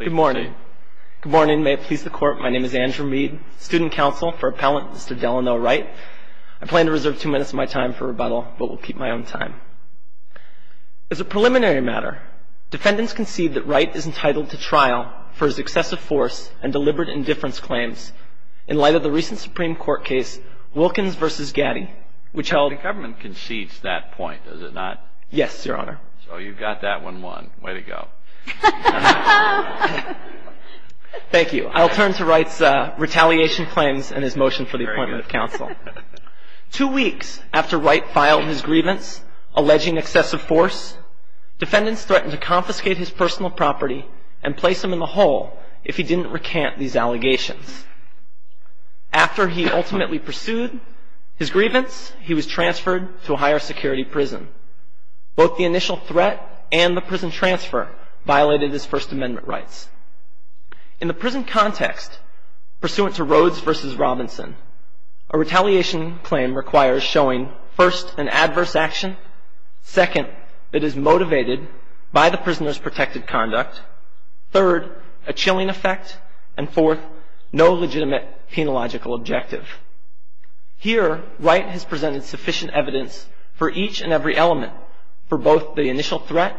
Good morning. Good morning. May it please the Court, my name is Andrew Mead, Student Counsel for Appellant Mr. Delano Wright. I plan to reserve two minutes of my time for rebuttal, but will keep my own time. As a preliminary matter, defendants concede that Wright is entitled to trial for his excessive force and deliberate indifference claims in light of the recent Supreme Court case Wilkins v. Gaddy, which held- The government concedes that point, does it not? Yes, Your Honor. So you got that one won. Way to go. Thank you. I'll turn to Wright's retaliation claims and his motion for the appointment of counsel. Two weeks after Wright filed his grievance alleging excessive force, defendants threatened to confiscate his personal property and place him in the hole if he didn't recant these allegations. After he ultimately pursued his grievance, he was transferred to a higher security prison. Both the initial threat and the prison transfer violated his First Amendment rights. In the prison context, pursuant to Rhodes v. Robinson, a retaliation claim requires showing, first, an adverse action, second, it is motivated by the prisoner's protected conduct, third, a chilling effect, and fourth, no legitimate penological objective. Here, Wright has presented sufficient evidence for each and every element for both the initial threat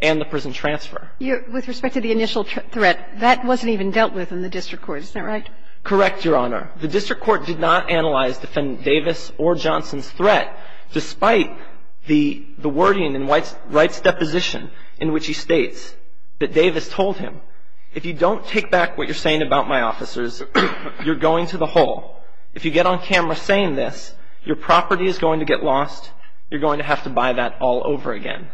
and the prison transfer. With respect to the initial threat, that wasn't even dealt with in the district court. Isn't that right? Correct, Your Honor. The district court did not analyze Defendant Davis or Johnson's threat, despite the wording in Wright's deposition in which he states that Davis told him, if you don't take back what you're saying about my officers, you're going to the hole. If you get on camera saying this, your property is going to get lost. You're going to have to buy that all over again.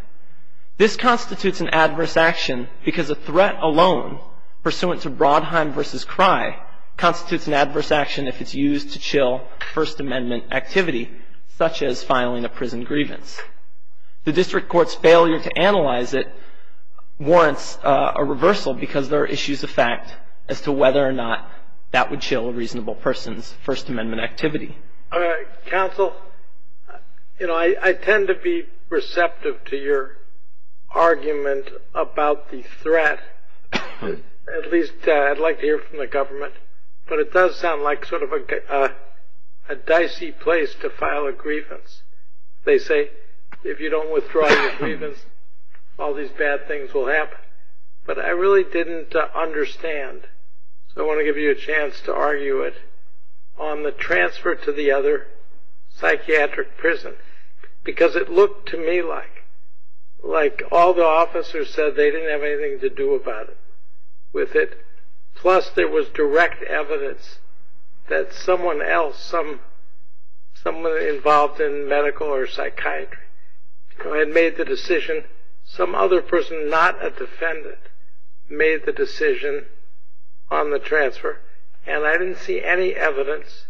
This constitutes an adverse action because a threat alone, pursuant to Brodheim v. Cry, constitutes an adverse action if it's used to chill First Amendment activity, such as filing a prison grievance. The district court's failure to analyze it warrants a reversal because there are issues of fact as to whether or not that would chill a reasonable person's First Amendment activity. Counsel, you know, I tend to be receptive to your argument about the threat. At least I'd like to hear from the government. But it does sound like sort of a dicey place to file a grievance. They say, if you don't withdraw your grievance, all these bad things will happen. But I really didn't understand. So I want to give you a chance to argue it on the transfer to the other psychiatric prison. Because it looked to me like all the officers said they didn't have anything to do about it with it. Plus, there was direct evidence that someone else, someone involved in medical or psychiatry, had made the decision. Some other person, not a defendant, made the decision on the transfer. And I didn't see any evidence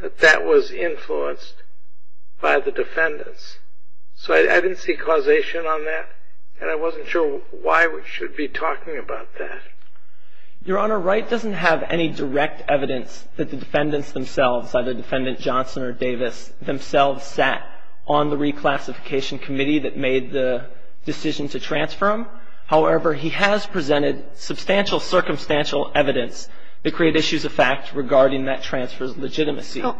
that that was influenced by the defendants. So I didn't see causation on that. And I wasn't sure why we should be talking about that. Your Honor, Wright doesn't have any direct evidence that the defendants themselves, either Defendant Johnson or Davis, themselves sat on the reclassification committee that made the decision to transfer him. However, he has presented substantial circumstantial evidence that created issues of fact regarding that transfer's legitimacy. My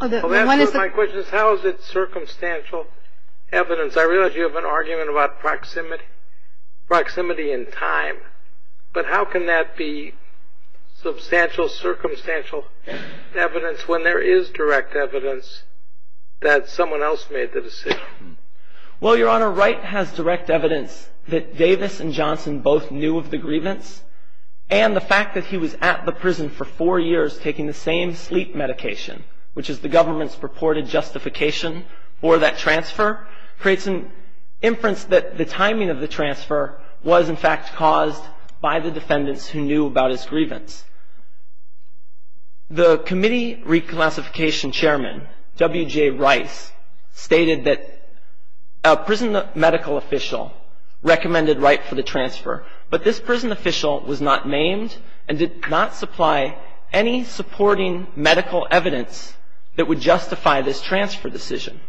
question is, how is it circumstantial evidence? I realize you have an argument about proximity and time. But how can that be substantial circumstantial evidence when there is direct evidence that someone else made the decision? Well, Your Honor, Wright has direct evidence that Davis and Johnson both knew of the grievance. And the fact that he was at the prison for four years taking the same sleep medication, which is the government's purported justification for that transfer, creates an inference that the timing of the transfer was, in fact, caused by the defendants who knew about his grievance. The committee reclassification chairman, W.J. Rice, stated that a prison medical official recommended Wright for the transfer. But this prison official was not named and did not supply any supporting medical evidence that would justify this transfer decision.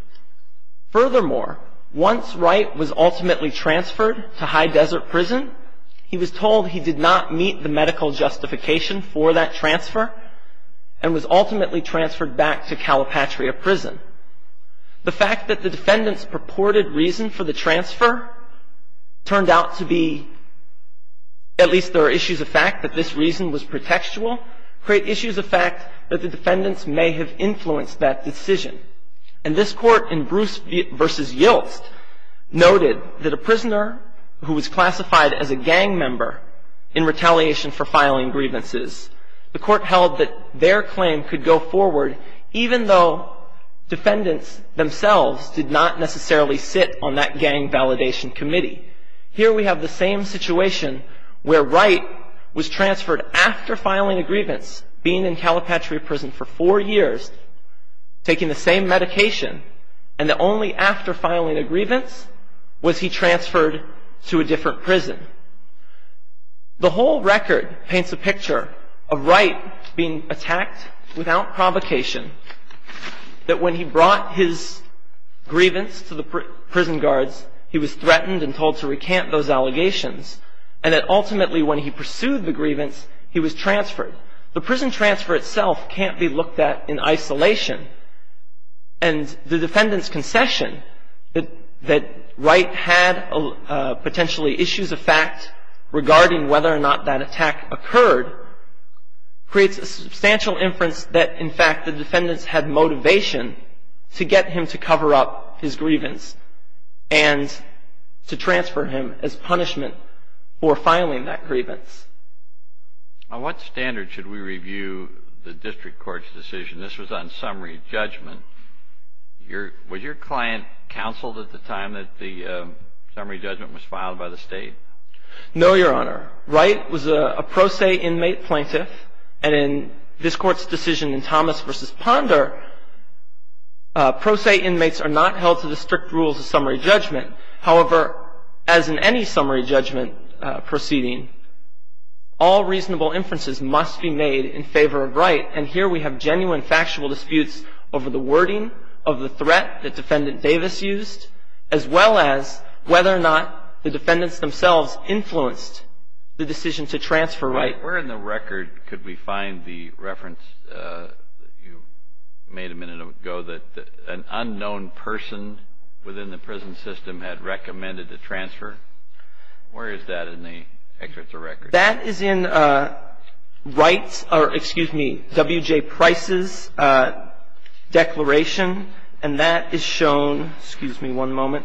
Furthermore, once Wright was ultimately transferred to High Desert Prison, he was told he did not meet the medical justification for that transfer and was ultimately transferred back to Calipatria Prison. The fact that the defendants purported reason for the transfer turned out to be, at least there are issues of fact that this reason was pretextual, create issues of fact that the defendants may have influenced that decision. And this court in Bruce v. Yilts noted that a prisoner who was classified as a gang member in retaliation for filing grievances, the court held that their claim could go forward even though defendants themselves did not necessarily sit on that gang validation committee. Here we have the same situation where Wright was transferred after filing a grievance, being in Calipatria Prison for four years, taking the same medication, and that only after filing a grievance was he transferred to a different prison. The whole record paints a picture of Wright being attacked without provocation, that when he brought his grievance to the prison guards, he was threatened and told to recant those allegations, and that ultimately when he pursued the grievance, he was transferred. The prison transfer itself can't be looked at in isolation, and the defendants' concession that Wright had potentially issues of fact regarding whether or not that attack occurred creates a substantial inference that in fact the defendants had motivation to get him to cover up his grievance and to transfer him as punishment for filing that grievance. On what standard should we review the district court's decision? This was on summary judgment. Was your client counseled at the time that the summary judgment was filed by the State? No, Your Honor. Wright was a pro se inmate plaintiff, and in this Court's decision in Thomas v. Ponder, pro se inmates are not held to the strict rules of summary judgment. However, as in any summary judgment proceeding, all reasonable inferences must be made in favor of Wright, and here we have genuine factual disputes over the wording of the threat that Defendant Davis used, as well as whether or not the defendants themselves influenced the decision to transfer Wright. Where in the record could we find the reference that you made a minute ago that an unknown person within the prison system had recommended the transfer? Where is that in the excerpts of records? That is in Wright's or, excuse me, W.J. Price's declaration, and that is shown. Excuse me one moment.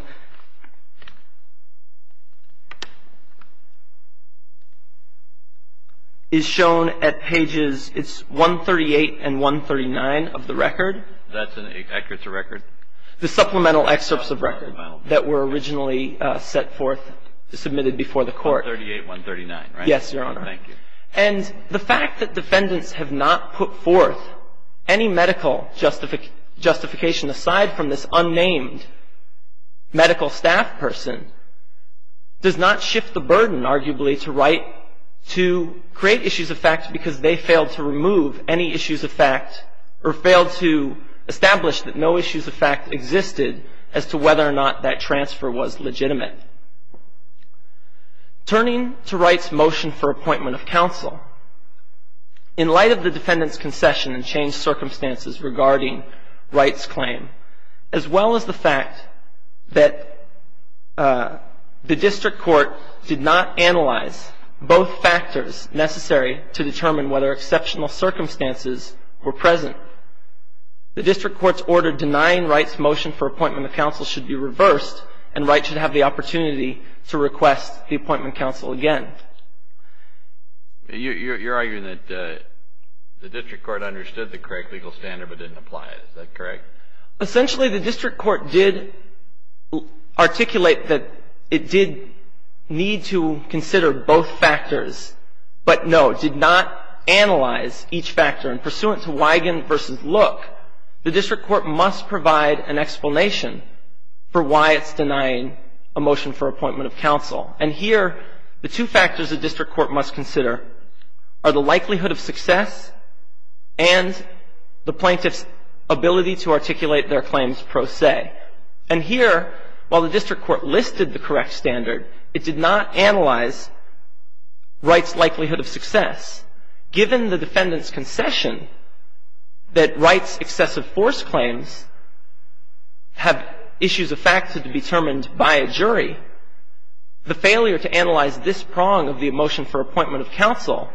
Is shown at pages, it's 138 and 139 of the record. That's in the records of record? The supplemental excerpts of record that were originally set forth, submitted before the Court. 138, 139, right? Yes, Your Honor. Thank you. And the fact that defendants have not put forth any medical justification aside from this unnamed medical staff person does not shift the burden, arguably, to Wright to create issues of fact because they failed to remove any issues of fact or failed to establish that no issues of fact existed as to whether or not that transfer was legitimate. Turning to Wright's motion for appointment of counsel, in light of the defendant's concession and changed circumstances regarding Wright's claim, as well as the fact that the District Court did not analyze both factors necessary to determine whether exceptional circumstances were present, the District Court's order denying Wright's motion for appointment of counsel should be reversed and Wright should have the opportunity to request the appointment of counsel again. You're arguing that the District Court understood the correct legal standard but didn't apply it. Is that correct? Essentially, the District Court did articulate that it did need to consider both factors, but no, did not analyze each factor. And pursuant to Wigand v. Look, the District Court must provide an explanation for why it's denying a motion for appointment of counsel. And here, the two factors the District Court must consider are the likelihood of success and the plaintiff's ability to articulate their claims pro se. And here, while the District Court listed the correct standard, given the defendant's concession that Wright's excessive force claims have issues of fact to be determined by a jury, the failure to analyze this prong of the motion for appointment of counsel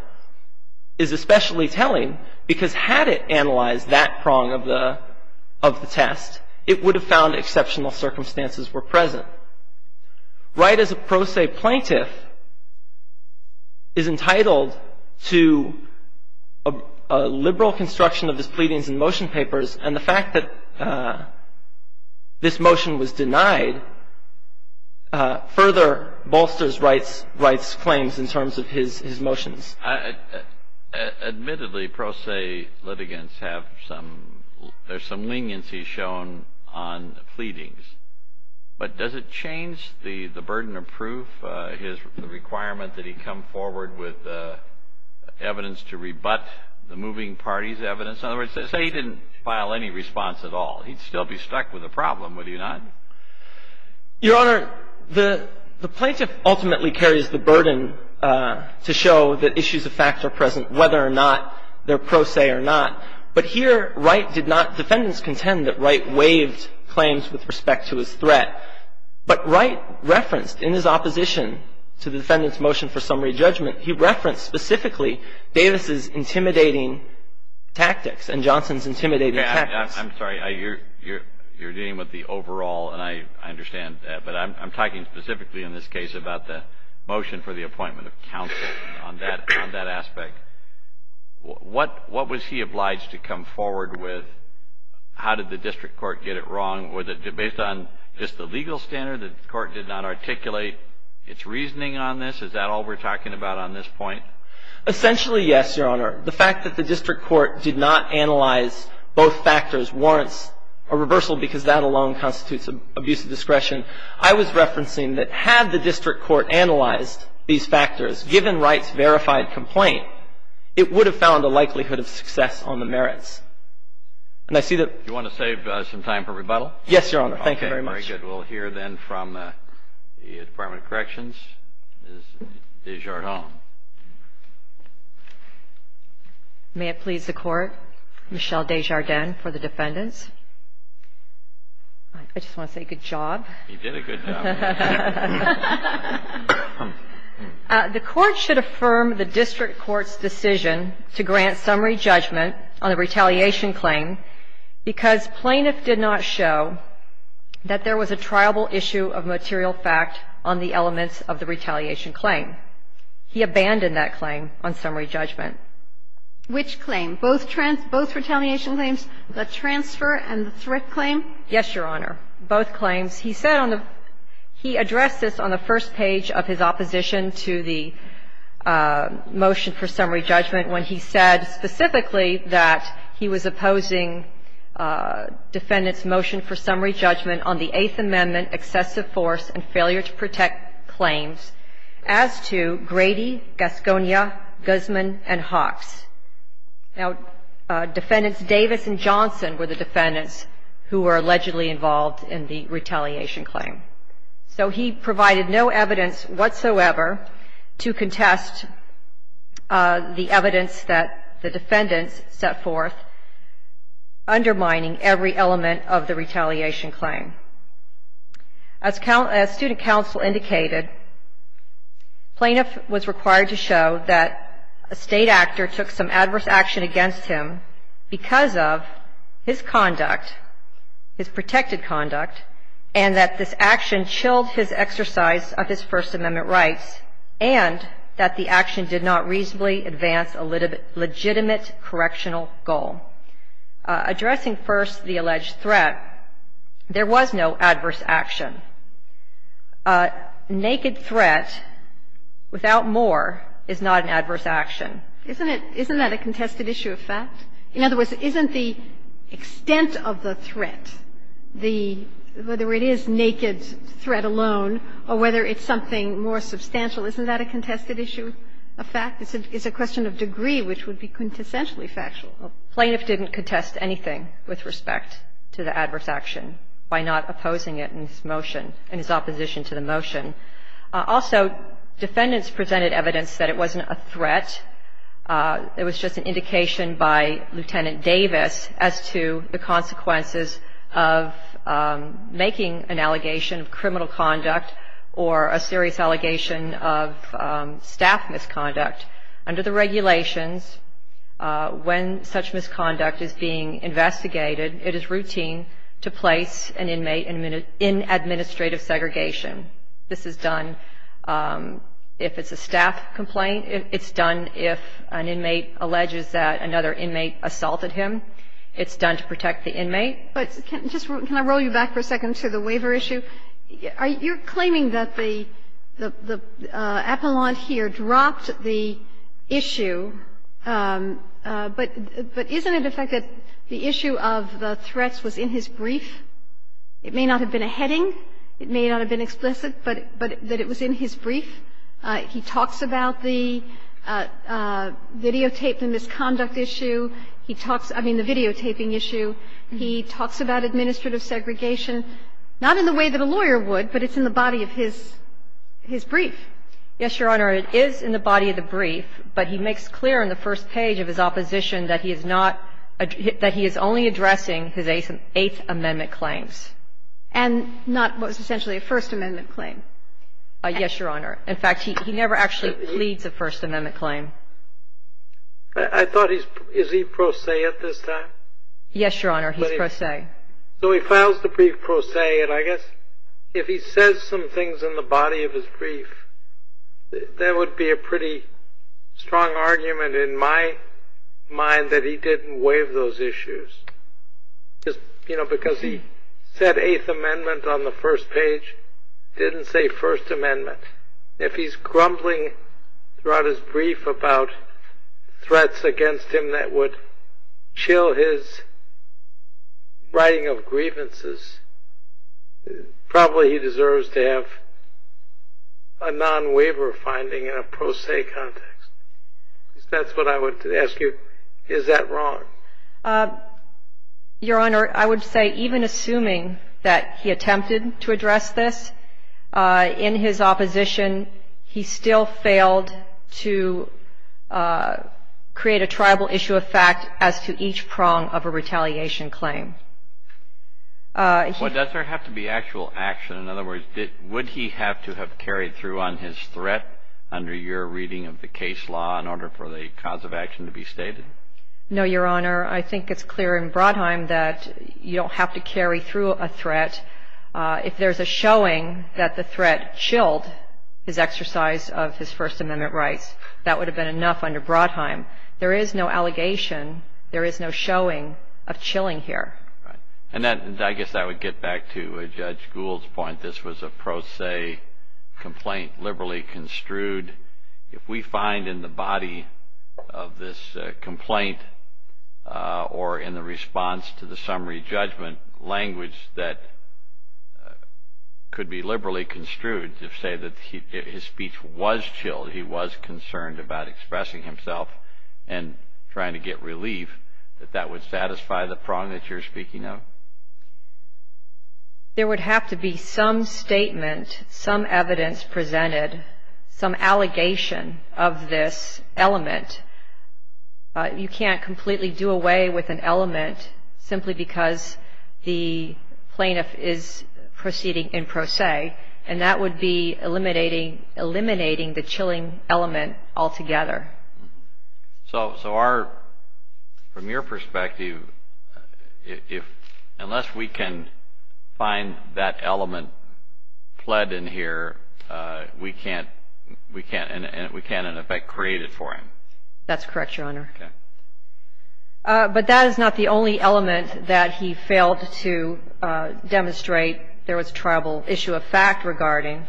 is especially telling because had it analyzed that prong of the test, it would have found exceptional circumstances were present. Therefore, Wright as a pro se plaintiff is entitled to a liberal construction of his pleadings and motion papers and the fact that this motion was denied further bolsters Wright's claims in terms of his motions. Admittedly, pro se litigants have some, there's some leniency shown on pleadings. But does it change the burden of proof, the requirement that he come forward with evidence to rebut the moving party's evidence? In other words, say he didn't file any response at all. He'd still be stuck with a problem, would he not? Your Honor, the plaintiff ultimately carries the burden to show that issues of fact are present whether or not they're pro se or not. But here Wright did not, defendants contend that Wright waived claims with respect to his threat. But Wright referenced in his opposition to the defendant's motion for summary judgment, he referenced specifically Davis's intimidating tactics and Johnson's intimidating tactics. I'm sorry. You're dealing with the overall and I understand that. But I'm talking specifically in this case about the motion for the appointment of counsel on that aspect. What was he obliged to come forward with? How did the district court get it wrong? Was it based on just the legal standard? The court did not articulate its reasoning on this? Is that all we're talking about on this point? Essentially, yes, Your Honor. The fact that the district court did not analyze both factors warrants a reversal because that alone constitutes abuse of discretion. I was referencing that had the district court analyzed these factors, given Wright's verified complaint, it would have found a likelihood of success on the merits. And I see that. Do you want to save some time for rebuttal? Yes, Your Honor. Thank you very much. Okay. Very good. We'll hear then from the Department of Corrections, Ms. Desjardins. May it please the Court, Michelle Desjardins for the defendants. I just want to say good job. You did a good job. The Court should affirm the district court's decision to grant summary judgment on the retaliation claim because plaintiff did not show that there was a triable issue of material fact on the elements of the retaliation claim. He abandoned that claim on summary judgment. Which claim? Both retaliation claims, the transfer and the threat claim? Yes, Your Honor. Both claims. He said on the he addressed this on the first page of his opposition to the motion for summary judgment when he said specifically that he was opposing defendant's motion for summary judgment on the Eighth Amendment excessive force and failure to protect claims as to Grady, Gasconia, Guzman, and Hawks. Now, defendants Davis and Johnson were the defendants who were allegedly involved in the retaliation claim. So he provided no evidence whatsoever to contest the evidence that the defendants set forth undermining every element of the retaliation claim. As student counsel indicated, plaintiff was required to show that a state actor took some adverse action against him because of his conduct, his protected conduct, and that this action chilled his exercise of his First Amendment rights and that the action did not reasonably advance a legitimate correctional goal. Addressing first the alleged threat, there was no adverse action. A naked threat without more is not an adverse action. Isn't it isn't that a contested issue of fact? In other words, isn't the extent of the threat, the whether it is naked threat alone or whether it's something more substantial, isn't that a contested issue of fact? It's a question of degree which would be quintessentially factual. Plaintiff didn't contest anything with respect to the adverse action by not opposing it in his motion, in his opposition to the motion. Also, defendants presented evidence that it wasn't a threat. It was just an indication by Lieutenant Davis as to the consequences of making an allegation of criminal conduct or a serious allegation of staff misconduct. Under the regulations, when such misconduct is being investigated, it is routine to place an inmate in administrative segregation. This is done if it's a staff complaint. It's done if an inmate alleges that another inmate assaulted him. It's done to protect the inmate. But just can I roll you back for a second to the waiver issue? You're claiming that the appellant here dropped the issue, but isn't it the fact that the issue of the threats was in his brief? It may not have been a heading. It may not have been explicit, but that it was in his brief. He talks about the videotape, the misconduct issue. He talks, I mean, the videotaping issue. He talks about administrative segregation, not in the way that a lawyer would, but it's in the body of his brief. Yes, Your Honor. It is in the body of the brief, but he makes clear in the first page of his opposition that he is not – that he is only addressing his Eighth Amendment claims. And not what was essentially a First Amendment claim. Yes, Your Honor. In fact, he never actually pleads a First Amendment claim. I thought he's – is he pro se at this time? Yes, Your Honor. He's pro se. So he files the brief pro se, and I guess if he says some things in the body of his brief, there would be a pretty strong argument in my mind that he didn't waive those issues. You know, because he said Eighth Amendment on the first page, didn't say First Amendment. If he's grumbling throughout his brief about threats against him that would chill his writing of grievances, probably he deserves to have a non-waiver finding in a pro se context. That's what I would ask you. Is that wrong? Your Honor, I would say even assuming that he attempted to address this in his opposition, he still failed to create a tribal issue of fact as to each prong of a retaliation claim. Well, does there have to be actual action? In other words, would he have to have carried through on his threat under your reading of the case law in order for the cause of action to be stated? No, Your Honor. I think it's clear in Brodheim that you don't have to carry through a threat. If there's a showing that the threat chilled his exercise of his First Amendment rights, that would have been enough under Brodheim. There is no allegation. There is no showing of chilling here. And I guess that would get back to Judge Gould's point. This was a pro se complaint, liberally construed. If we find in the body of this complaint or in the response to the summary judgment, language that could be liberally construed to say that his speech was chilled, he was concerned about expressing himself and trying to get relief, that that would satisfy the prong that you're speaking of? There would have to be some statement, some evidence presented, some allegation of this element. You can't completely do away with an element simply because the plaintiff is proceeding in pro se, and that would be eliminating the chilling element altogether. So from your perspective, unless we can find that element fled in here, we can't, in effect, create it for him? That's correct, Your Honor. Okay. But that is not the only element that he failed to demonstrate. There was a tribal issue of fact regarding.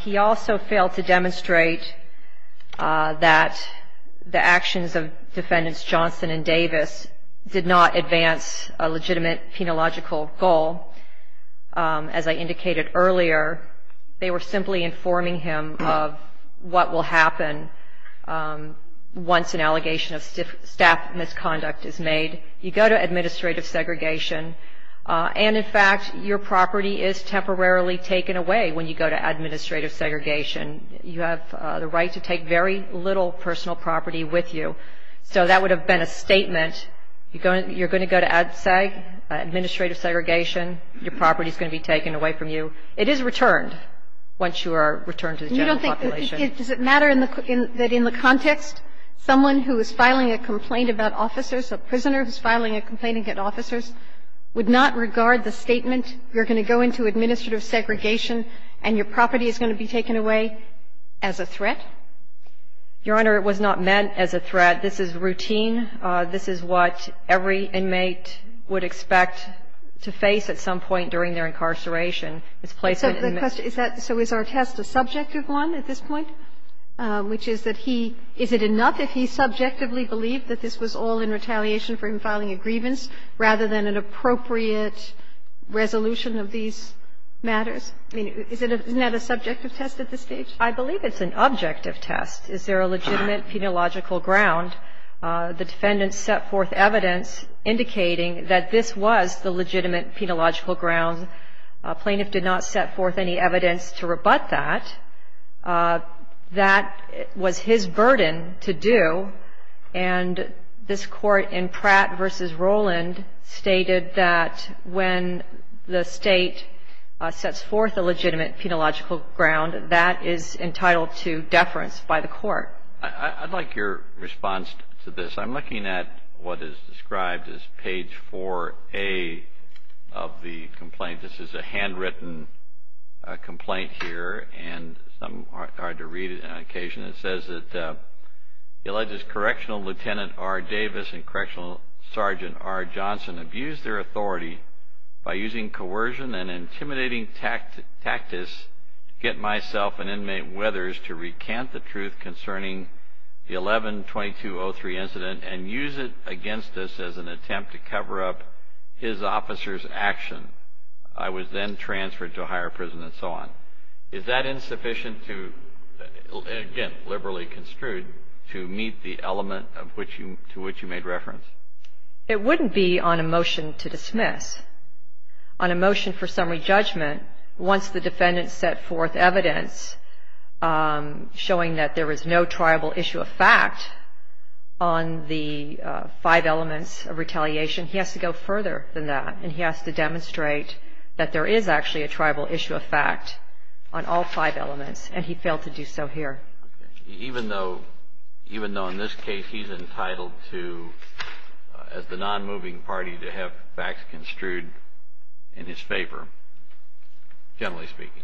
He also failed to demonstrate that the actions of Defendants Johnson and Davis did not advance a legitimate penological goal. As I indicated earlier, they were simply informing him of what will happen once an allegation of staff misconduct is made. You go to administrative segregation. And, in fact, your property is temporarily taken away when you go to administrative segregation. You have the right to take very little personal property with you. So that would have been a statement. You're going to go to administrative segregation. Your property is going to be taken away from you. It is returned once you are returned to the general population. Does it matter that in the context, someone who is filing a complaint about officers, a prisoner who is filing a complaint against officers, would not regard the statement, you're going to go into administrative segregation and your property is going to be taken away, as a threat? Your Honor, it was not meant as a threat. This is routine. This is what every inmate would expect to face at some point during their incarceration. It's placement in the men's room. So the question is that, so is our test a subjective one at this point? Which is that he – is it enough if he subjectively believed that this was all in retaliation for him filing a grievance rather than an appropriate resolution of these matters? I mean, isn't that a subjective test at this stage? I believe it's an objective test. Is there a legitimate penological ground? The defendants set forth evidence indicating that this was the legitimate penological ground. A plaintiff did not set forth any evidence to rebut that. That was his burden to do. And this Court in Pratt v. Roland stated that when the State sets forth a legitimate penological ground, that is entitled to deference by the Court. I'd like your response to this. So I'm looking at what is described as page 4A of the complaint. This is a handwritten complaint here, and it's hard to read it on occasion. It says that the alleged Correctional Lieutenant R. Davis and Correctional Sergeant R. Johnson abused their authority by using coercion and intimidating tactics to get myself and inmate Weathers to recant the truth concerning the 11-2203 incident and use it against us as an attempt to cover up his officer's action. I was then transferred to a higher prison and so on. Is that insufficient to, again, liberally construed to meet the element to which you made reference? It wouldn't be on a motion to dismiss. On a motion for summary judgment, once the defendant set forth evidence showing that there is no tribal issue of fact on the five elements of retaliation, he has to go further than that, and he has to demonstrate that there is actually a tribal issue of fact on all five elements, and he failed to do so here. Even though in this case he's entitled to, as the non-moving party, to have facts construed in his favor, generally speaking.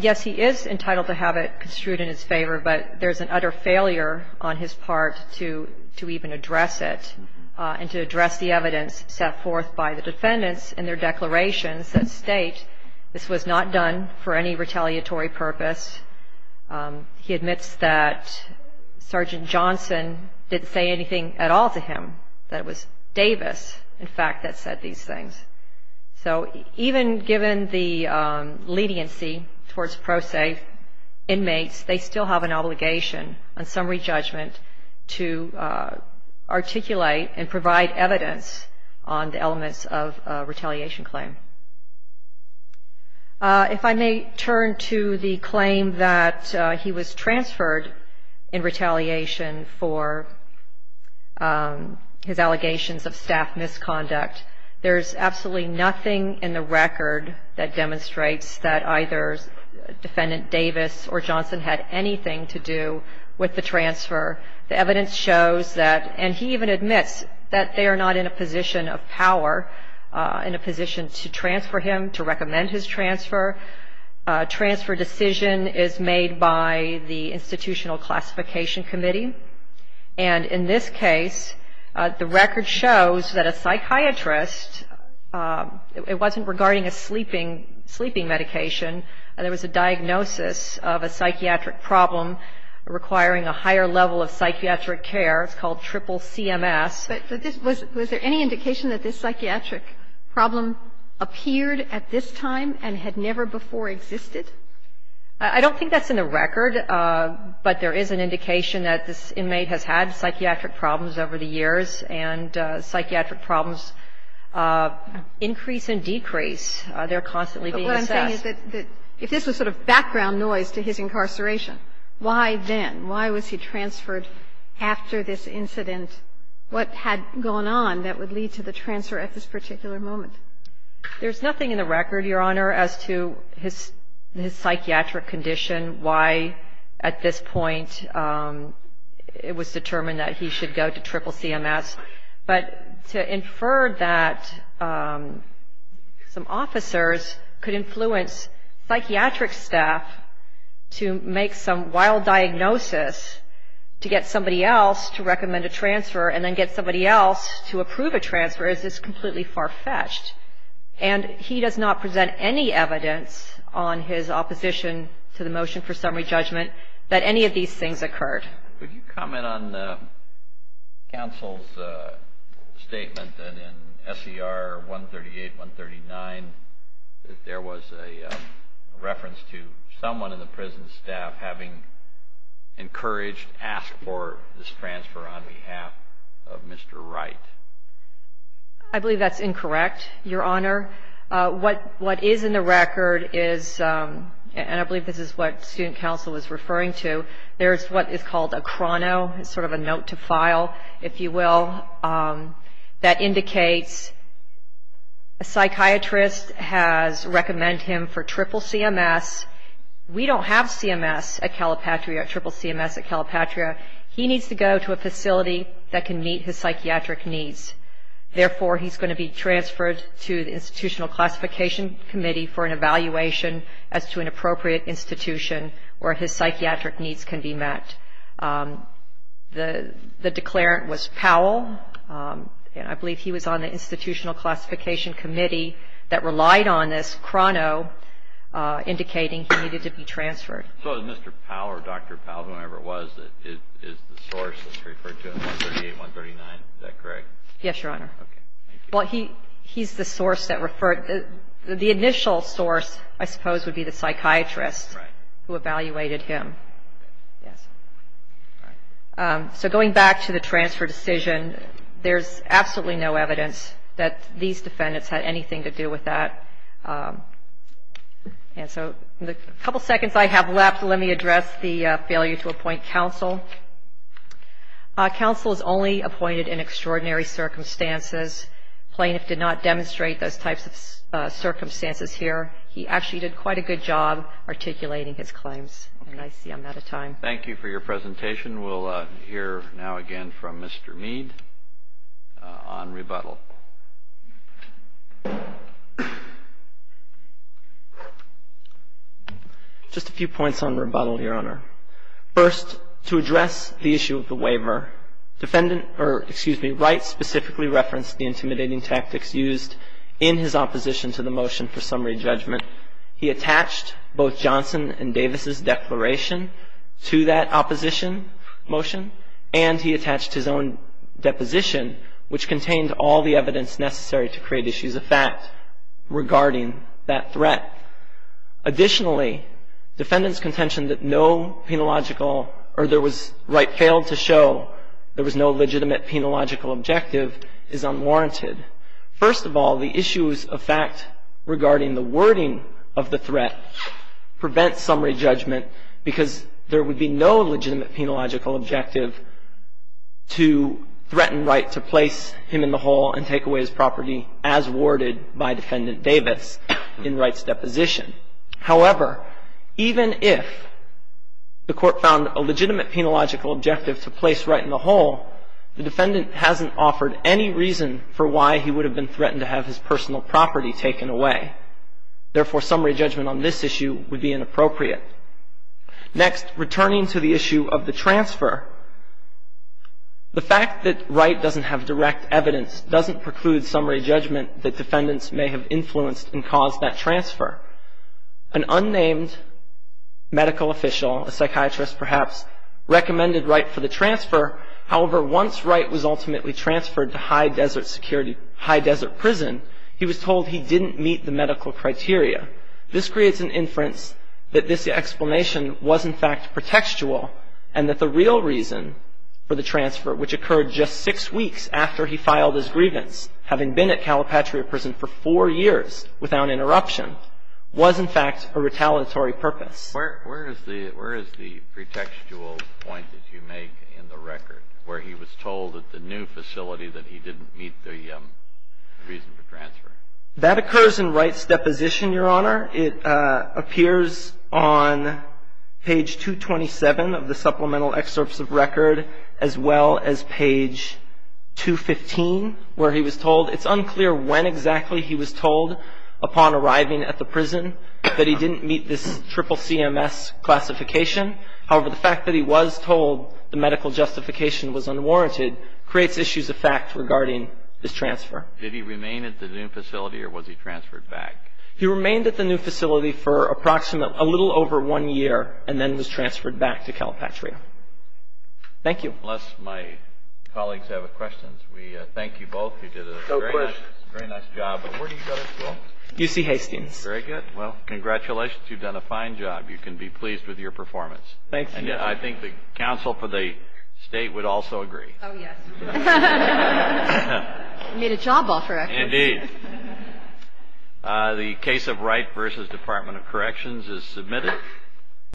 Yes, he is entitled to have it construed in his favor, but there's an utter failure on his part to even address it and to address the evidence set forth by the defendants in their declarations that state this was not done for any retaliatory purpose. He admits that Sergeant Johnson didn't say anything at all to him, that it was Davis, in fact, that said these things. So even given the leniency towards pro se inmates, they still have an obligation on summary judgment to articulate and provide evidence on the elements of a retaliation claim. If I may turn to the claim that he was transferred in retaliation for his allegations of staff misconduct, there's absolutely nothing in the record that demonstrates that either Defendant Davis or Johnson had anything to do with the transfer. The evidence shows that, and he even admits that they are not in a position of power, in a position to transfer him, to recommend his transfer. A transfer decision is made by the Institutional Classification Committee. And in this case, the record shows that a psychiatrist, it wasn't regarding a sleeping medication, there was a diagnosis of a psychiatric problem requiring a higher level of psychiatric care. It's called triple CMS. But was there any indication that this psychiatric problem appeared at this time and had never before existed? I don't think that's in the record, but there is an indication that this inmate has had psychiatric problems over the years, and psychiatric problems increase and decrease. They're constantly being assessed. But what I'm saying is that if this was sort of background noise to his incarceration, why then, why was he transferred after this incident? What had gone on that would lead to the transfer at this particular moment? There's nothing in the record, Your Honor, as to his psychiatric condition, why at this point it was determined that he should go to triple CMS. But to infer that some officers could influence psychiatric staff to make some wild diagnosis to get somebody else to recommend a transfer and then get somebody else to approve a transfer is just completely far-fetched. And he does not present any evidence on his opposition to the motion for summary judgment that any of these things occurred. Could you comment on counsel's statement that in SCR 138, 139, there was a reference to someone in the prison staff having encouraged, asked for this transfer on behalf of Mr. Wright? I believe that's incorrect, Your Honor. What is in the record is, and I believe this is what student counsel was referring to, there is what is called a chrono, sort of a note to file, if you will, that indicates a psychiatrist has recommended him for triple CMS. We don't have CMS at Calipatria, triple CMS at Calipatria. He needs to go to a facility that can meet his psychiatric needs. Therefore, he's going to be transferred to the Institutional Classification Committee for an evaluation as to an appropriate institution where his psychiatric needs can be met. The declarant was Powell, and I believe he was on the Institutional Classification Committee that relied on this chrono indicating he needed to be transferred. So is Mr. Powell or Dr. Powell, whoever it was, is the source that's referred to in 138, 139? Is that correct? Yes, Your Honor. Okay. Thank you. Well, he's the source that referred, the initial source, I suppose, would be the psychiatrist who evaluated him. Yes. All right. So going back to the transfer decision, there's absolutely no evidence that these defendants had anything to do with that. And so in the couple seconds I have left, let me address the failure to appoint counsel. Counsel is only appointed in extraordinary circumstances. Plaintiff did not demonstrate those types of circumstances here. He actually did quite a good job articulating his claims. And I see I'm out of time. Thank you for your presentation. We'll hear now again from Mr. Mead on rebuttal. Just a few points on rebuttal, Your Honor. First, to address the issue of the waiver, defendant or, excuse me, Wright specifically referenced the intimidating tactics used in his opposition to the motion for summary judgment. He attached both Johnson and Davis' declaration to that opposition motion, and he attached his own deposition, which contained all the evidence necessary to create issues of fact regarding that threat. Additionally, defendant's contention that Wright failed to show there was no legitimate penological objective is unwarranted. First of all, the issues of fact regarding the wording of the threat prevent summary judgment because there would be no legitimate penological objective to threaten Wright to place him in the hole and take away his property as worded by defendant Davis in Wright's deposition. However, even if the court found a legitimate penological objective to place Wright in the hole, the defendant hasn't offered any reason for why he would have been threatened to have his personal property taken away. Therefore, summary judgment on this issue would be inappropriate. Next, returning to the issue of the transfer, the fact that Wright doesn't have direct evidence doesn't preclude summary judgment that defendants may have influenced and caused that transfer. An unnamed medical official, a psychiatrist perhaps, recommended Wright for the transfer. However, once Wright was ultimately transferred to high desert security, high desert prison, he was told he didn't meet the medical criteria. This creates an inference that this explanation was, in fact, pretextual and that the real reason for the transfer, which occurred just six weeks after he filed his grievance, having been at Calipatria Prison for four years without interruption, was, in fact, a retaliatory purpose. Where is the pretextual point that you make in the record where he was told at the new facility That occurs in Wright's deposition, Your Honor. It appears on page 227 of the supplemental excerpts of record as well as page 215 where he was told. It's unclear when exactly he was told upon arriving at the prison that he didn't meet this triple CMS classification. However, the fact that he was told the medical justification was unwarranted creates issues of fact regarding this transfer. Did he remain at the new facility or was he transferred back? He remained at the new facility for approximately a little over one year and then was transferred back to Calipatria. Thank you. Unless my colleagues have questions, we thank you both. You did a very nice job. Where do you go to school? UC Hastings. Very good. Well, congratulations. You've done a fine job. You can be pleased with your performance. Thank you. I think the counsel for the State would also agree. Oh, yes. You made a job offer, actually. Indeed. The case of Wright v. Department of Corrections is submitted.